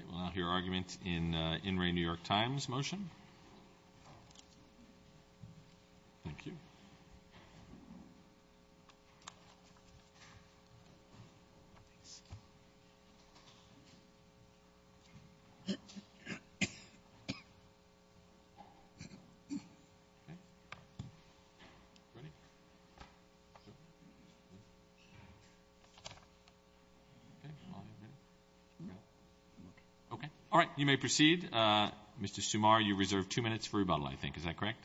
Okay, we'll now hear argument in In Re New York Times Motion. Thank you. Okay. All right, you may proceed. Mr. Sumar, you reserve two minutes for rebuttal, I think. Is that correct?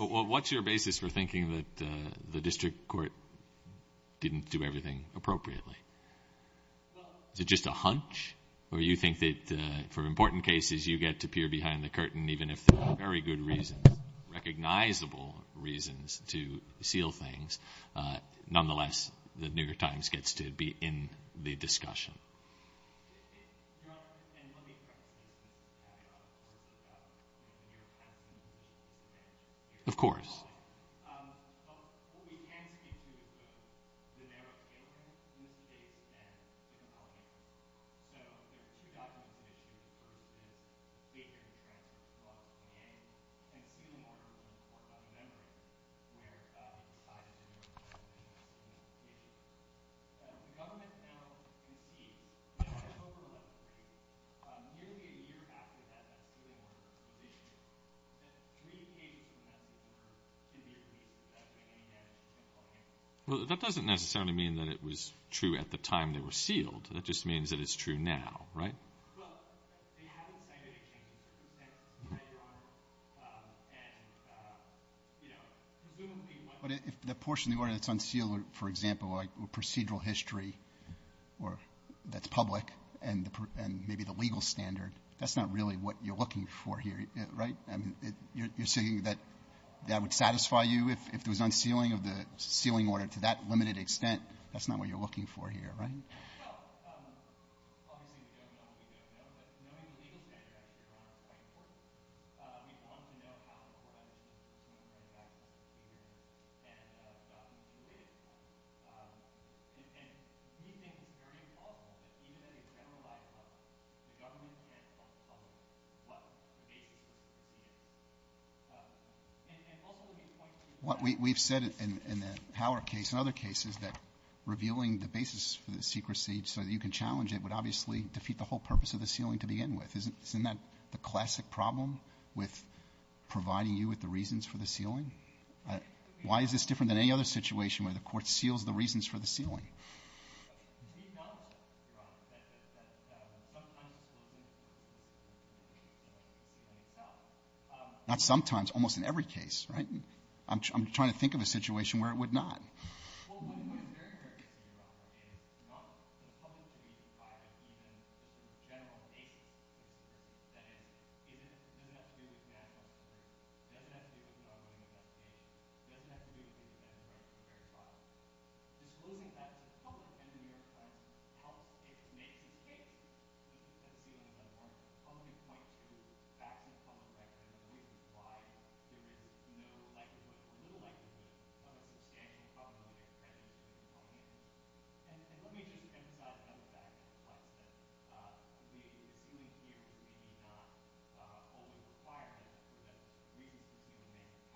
Well, what's your basis for thinking that the district court didn't do everything appropriately? Is it just a hunch, or do you think that for important cases you get to peer behind the curtain even if there are very good reasons, recognizable reasons, to seal things? Nonetheless, the New York Times gets to be in the discussion. Your Honor, and let me correct the misstatement that I made earlier about the New York Times and the New York Times. Of course. What we can speak to is both the narrow case in this case and the compelling case. So there are two documents of issue. The first is the state hearing transcripts brought to the hearing and the second is a report by the memory where they decided that there was a misstatement of the issue. The government has now conceded that over the last three years, nearly a year after that, that's really when there was a misstatement of the issue, that three pages of the message were in your case without doing any damage to the public interest. Well, that doesn't necessarily mean that it was true at the time they were sealed. That just means that it's true now, right? Well, they haven't cited a change in circumstances yet, Your Honor. But if the portion of the order that's unsealed, for example, like procedural history that's public and maybe the legal standard, that's not really what you're looking for here, right? I mean, you're saying that that would satisfy you if there was unsealing of the sealing order to that limited extent? That's not what you're looking for here, right? Well, obviously we don't know what we don't know, but knowing the legal standard, I think, Your Honor, is quite important. We want to know how the court understood that it was going to affect the procedure and documents related to it. And we think it's very implausible that even at a generalized level, the government can't uncover what the nature of the procedure is. What we've said in the Howard case and other cases that revealing the basis for the secrecy so that you can challenge it would obviously defeat the whole purpose of the sealing to begin with. Isn't that the classic problem with providing you with the reasons for the sealing? Why is this different than any other situation where the court seals the reasons for the sealing? We've known, Your Honor, that sometimes disclosing the basis for the sealing itself... Well, what is very, very interesting, Your Honor, is not the public to read, but even the general nature of the procedure. That is, it doesn't have to do with the man or the person. It doesn't have to do with the argument of that case. It doesn't have to do with things that are very violent. Disclosing that to the public and the New York Times, how it makes a case that the sealing is unlawful only points you back to the public, and the reason why there is no likelihood or little likelihood of a substantial problem that exists in the United States. And let me just emphasize another fact, Your Honor, that the sealing here may not always require this, so that the reason for sealing may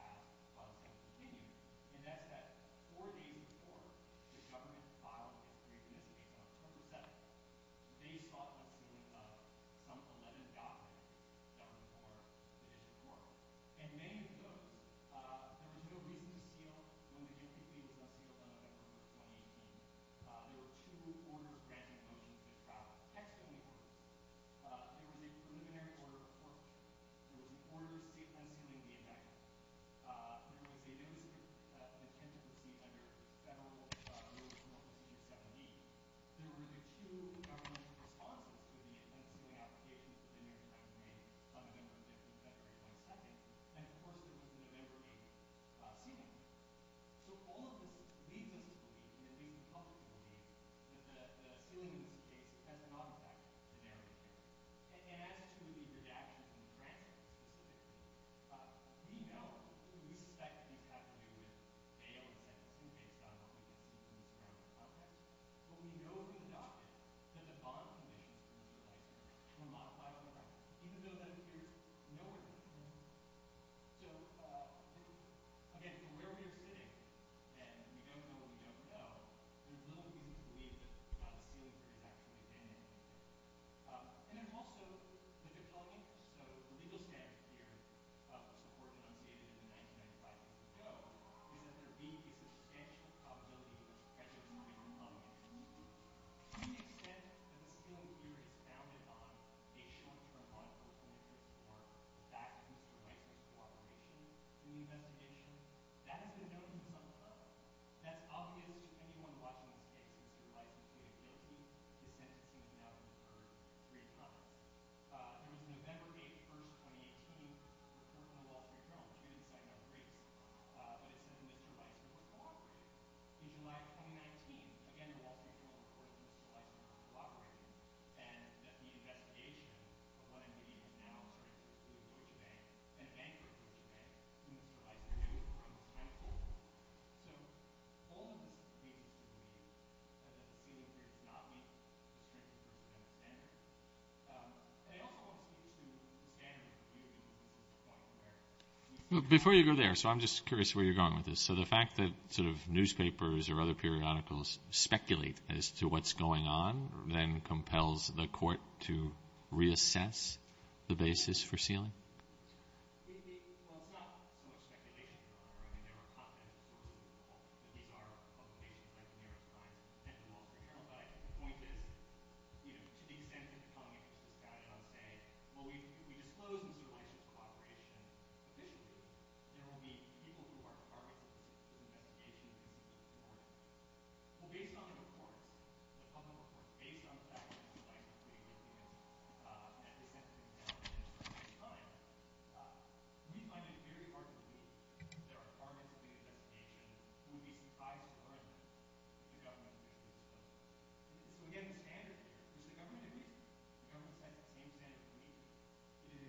have a positive meaning. And that's that four days before the government filed its recommendation on October 7th, they sought the sealing of some 11 documents that were for judicial court. And many of those, there was no reason to seal when the agency was not sealed by November of 2018. There were two order granting motions that were out of text in the order. There was a preliminary order of court. There was an order unsealing the indictment. There was a notice of intent to proceed under Federal Rules of Procedure 17. There were the two governmental responses to the intent of sealing applications in the New York Times range on November 5th and February 22nd. And, of course, there was a November 8th sealing. So all of this leads us to believe, and it leads the public to believe, that the sealing of this case has a non-factual scenario here. And as to the redaction of the grant, we know, we suspect, that it has to do with failure of Section 2 based on what we've seen in the experimental context. But we know from the documents that the bond provisions were modified on the right, even though that appears nowhere near. So, again, from where we are sitting, and we don't know what we don't know, there's little reason to believe that the sealing has actually been implemented. And then, also, the legal standard here, the support denunciated in 1995, is that there being a substantial probability of predatory and non-factual. To the extent that the sealing here is founded on a short-term bond proposal or factually correct cooperation in the investigation, that has been known to some extent. So, that's obvious to anyone watching this case. Mr. Weiss is clearly guilty. The sentence is now deferred three months. There was a November 8th, 1st, 2018 report from the Wall Street Journal. I'm sure you didn't sign up for it. But it says Mr. Weiss was not cooperating. In July of 2019, again, the Wall Street Journal reported that Mr. Weiss was not cooperating and that the investigation of what I'm reading now, a bankruptcy ban, to Mr. Weiss. They're doing it from kind of a whole. So, the whole of this is clearly to do with the fact that the sealing here does not meet the standards. I also want to speak to the standard review in the U.S. Before you go there, so I'm just curious where you're going with this. So, the fact that sort of newspapers or other periodicals speculate as to what's going on then compels the court to reassess the basis for sealing? On the fact that you'd like to speak with me at this point in time, we find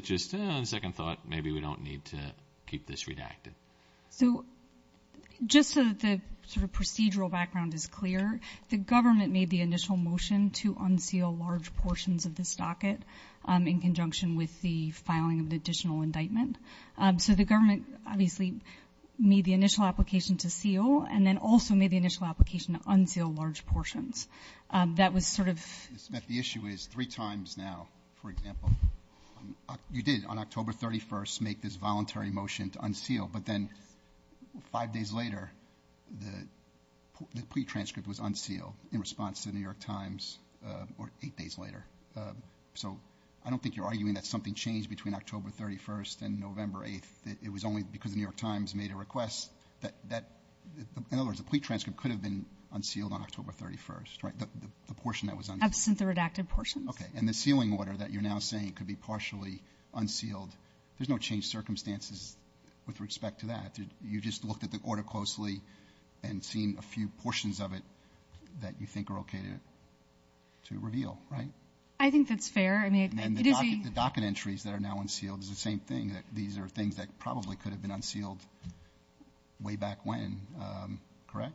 it very hard to believe that our targets of the investigation will be surprised to learn that the government is going to do this to us. So, again, the standard here is the government didn't do this. The government has the same standard as we do. It is a substantial couple of millions registered in the public. That is when it's appropriate for the public to be advised by the person at the front desk. And wholesale sealing specifically is something that this court has been very skeptical about. ABC first knew that was the case when the warranty received was closed. And this court said, well, even if there were some reasons to close the warranty there were so many reasons to close the warranty. In the e-reader of the Times today, it reminds me of something I said, not just because it involves Eric Fein. This court recognized the right of access to free trial in a newspaper that had a free warrant on it. And Jeff Weinstein had sealed those newspapers in their entirety. And this court said, that's not consistent. There may be some problems with that. Okay. Thank you, Mr. Sumar. We'll now hear from Ms. Smith on behalf of the government. So what accounts for then sort of the evolving and sort of slow disclosure of additional things? Has it changed circumstances, or is it just, on second thought, maybe we don't need to keep this redacted? So just so that the sort of procedural background is clear, to unseal large portions of the stocket in conjunction with the filing of the additional indictment. So the government obviously made the initial application to seal and then also made the initial application to unseal large portions. That was sort of – Ms. Smith, the issue is three times now, for example, you did on October 31st make this voluntary motion to unseal, but then five days later the plea transcript was unsealed in response to the New York Times, or eight days later. So I don't think you're arguing that something changed between October 31st and November 8th. It was only because the New York Times made a request that – in other words, the plea transcript could have been unsealed on October 31st, right? The portion that was unsealed. Absent the redacted portion. Okay. And the sealing order that you're now saying could be partially unsealed. There's no changed circumstances with respect to that. You just looked at the order closely and seen a few portions of it that you think are okay to reveal, right? I think that's fair. And then the docket entries that are now unsealed is the same thing, that these are things that probably could have been unsealed way back when, correct?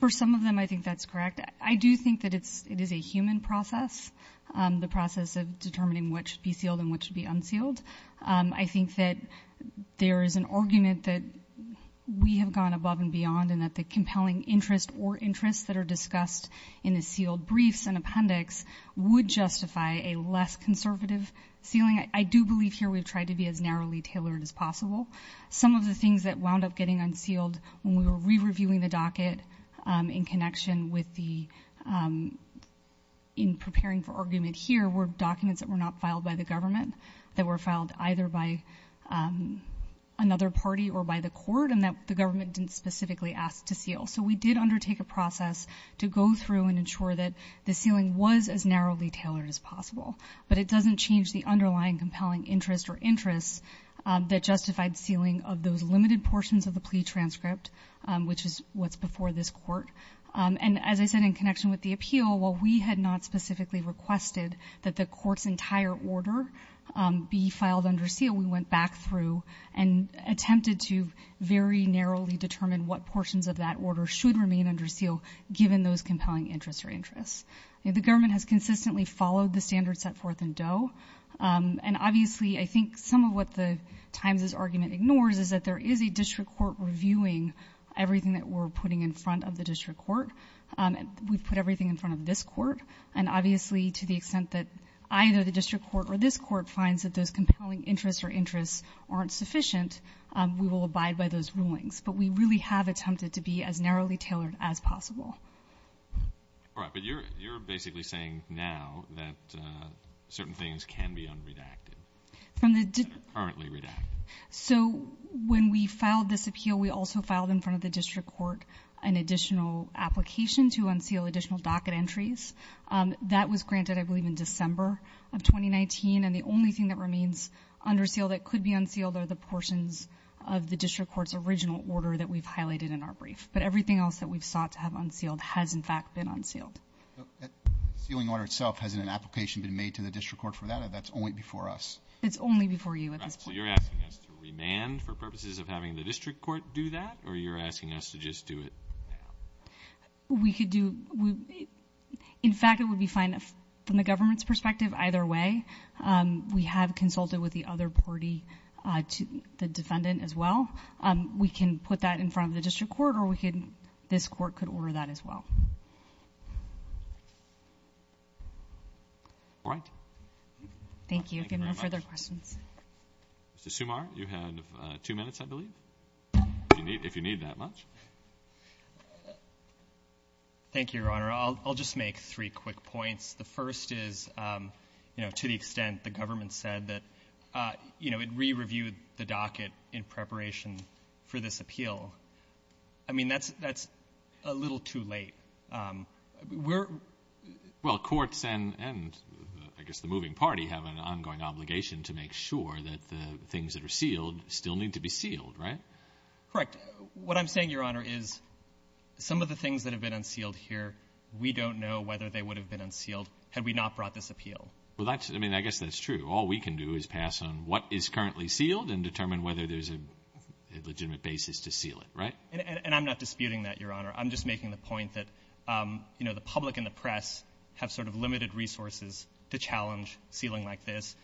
For some of them I think that's correct. I do think that it is a human process, the process of determining what should be sealed and what should be unsealed. I think that there is an argument that we have gone above and beyond and that the compelling interest or interests that are discussed in the sealed briefs and appendix would justify a less conservative sealing. I do believe here we've tried to be as narrowly tailored as possible. Some of the things that wound up getting unsealed when we were re-reviewing the docket in connection with the, in preparing for argument here, were documents that were not filed by the government, that were filed either by another party or by the court, and that the government didn't specifically ask to seal. So we did undertake a process to go through and ensure that the sealing was as narrowly tailored as possible. But it doesn't change the underlying compelling interest or interests that justified sealing of those limited portions of the plea transcript, which is what's before this court. And as I said in connection with the appeal, while we had not specifically requested that the court's entire order be filed under seal, we went back through and attempted to very narrowly determine what portions of that order should remain under seal, given those compelling interests or interests. The government has consistently followed the standards set forth in Doe. And obviously I think some of what the Times' argument ignores is that there is a district court reviewing everything that we're putting in front of the district court. We've put everything in front of this court. And obviously to the extent that either the district court or this court finds that those compelling interests or interests aren't sufficient, we will abide by those rulings. But we really have attempted to be as narrowly tailored as possible. All right. But you're basically saying now that certain things can be unredacted, that are currently redacted. So when we filed this appeal, we also filed in front of the district court an additional application to unseal additional docket entries. That was granted, I believe, in December of 2019. And the only thing that remains under seal that could be unsealed are the portions of the district court's original order that we've highlighted in our brief. But everything else that we've sought to have unsealed has, in fact, been unsealed. The sealing order itself, hasn't an application been made to the district court for that? That's only before us. It's only before you at this point. So you're asking us to remand for purposes of having the district court do that, or you're asking us to just do it now? We could do it. In fact, it would be fine from the government's perspective either way. We have consulted with the other party, the defendant as well. We can put that in front of the district court, or this court could order that as well. All right. Thank you. If you have no further questions. Mr. Sumar, you had two minutes, I believe, if you need that much. Thank you, Your Honor. I'll just make three quick points. The first is, you know, to the extent the government said that, you know, it re-reviewed the docket in preparation for this appeal. I mean, that's a little too late. Well, courts and I guess the moving party have an ongoing obligation to make sure that the things that are sealed still need to be sealed, right? Correct. What I'm saying, Your Honor, is some of the things that have been unsealed here, we don't know whether they would have been unsealed had we not brought this appeal. Well, I mean, I guess that's true. All we can do is pass on what is currently sealed and determine whether there's a legitimate basis to seal it, right? And I'm not disputing that, Your Honor. I'm just making the point that, you know, the public and the press have sort of limited resources to challenge sealing like this.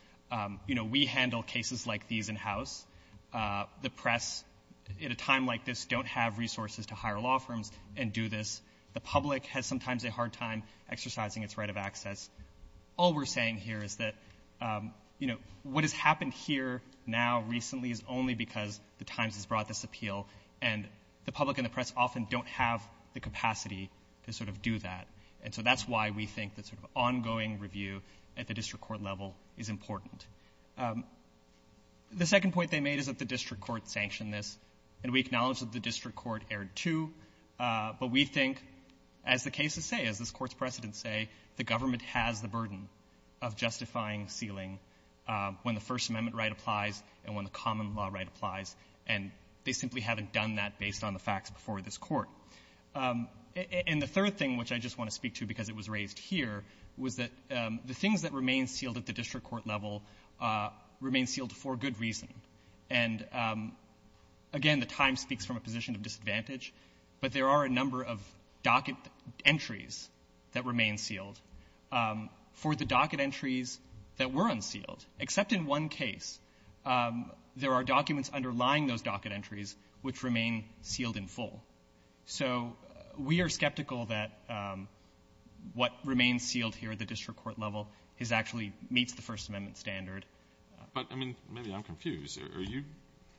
You know, we handle cases like these in-house. The press at a time like this don't have resources to hire law firms and do this. The public has sometimes a hard time exercising its right of access. All we're saying here is that, you know, what has happened here now recently is only because the Times has brought this appeal, and the public and the press often don't have the capacity to sort of do that. And so that's why we think that sort of ongoing review at the district court level is important. The second point they made is that the district court sanctioned this, and we acknowledge that the district court erred, too. But we think, as the cases say, as this Court's precedents say, the government has the burden of justifying sealing when the First Amendment right applies and when the common law right applies. And they simply haven't done that based on the facts before this Court. And the third thing, which I just want to speak to because it was raised here, was that the things that remain sealed at the district court level remain sealed for good reason. And again, the Times speaks from a position of disadvantage, but there are a number of docket entries that remain sealed. For the docket entries that were unsealed, except in one case, there are documents underlying those docket entries which remain sealed in full. So we are skeptical that what remains sealed here at the district court level is actually meets the First Amendment standard. But, I mean, maybe I'm confused. Are you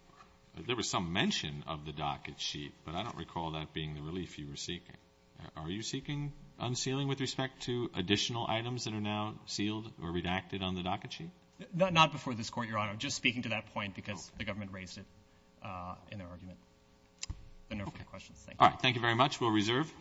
– there was some mention of the docket sheet, but I don't recall that being the relief you were seeking. Are you seeking unsealing with respect to additional items that are now sealed or redacted on the docket sheet? Not before this Court, Your Honor. I'm just speaking to that point because the government raised it in their argument. If there are no further questions, thank you. All right. Thank you very much. We'll reserve.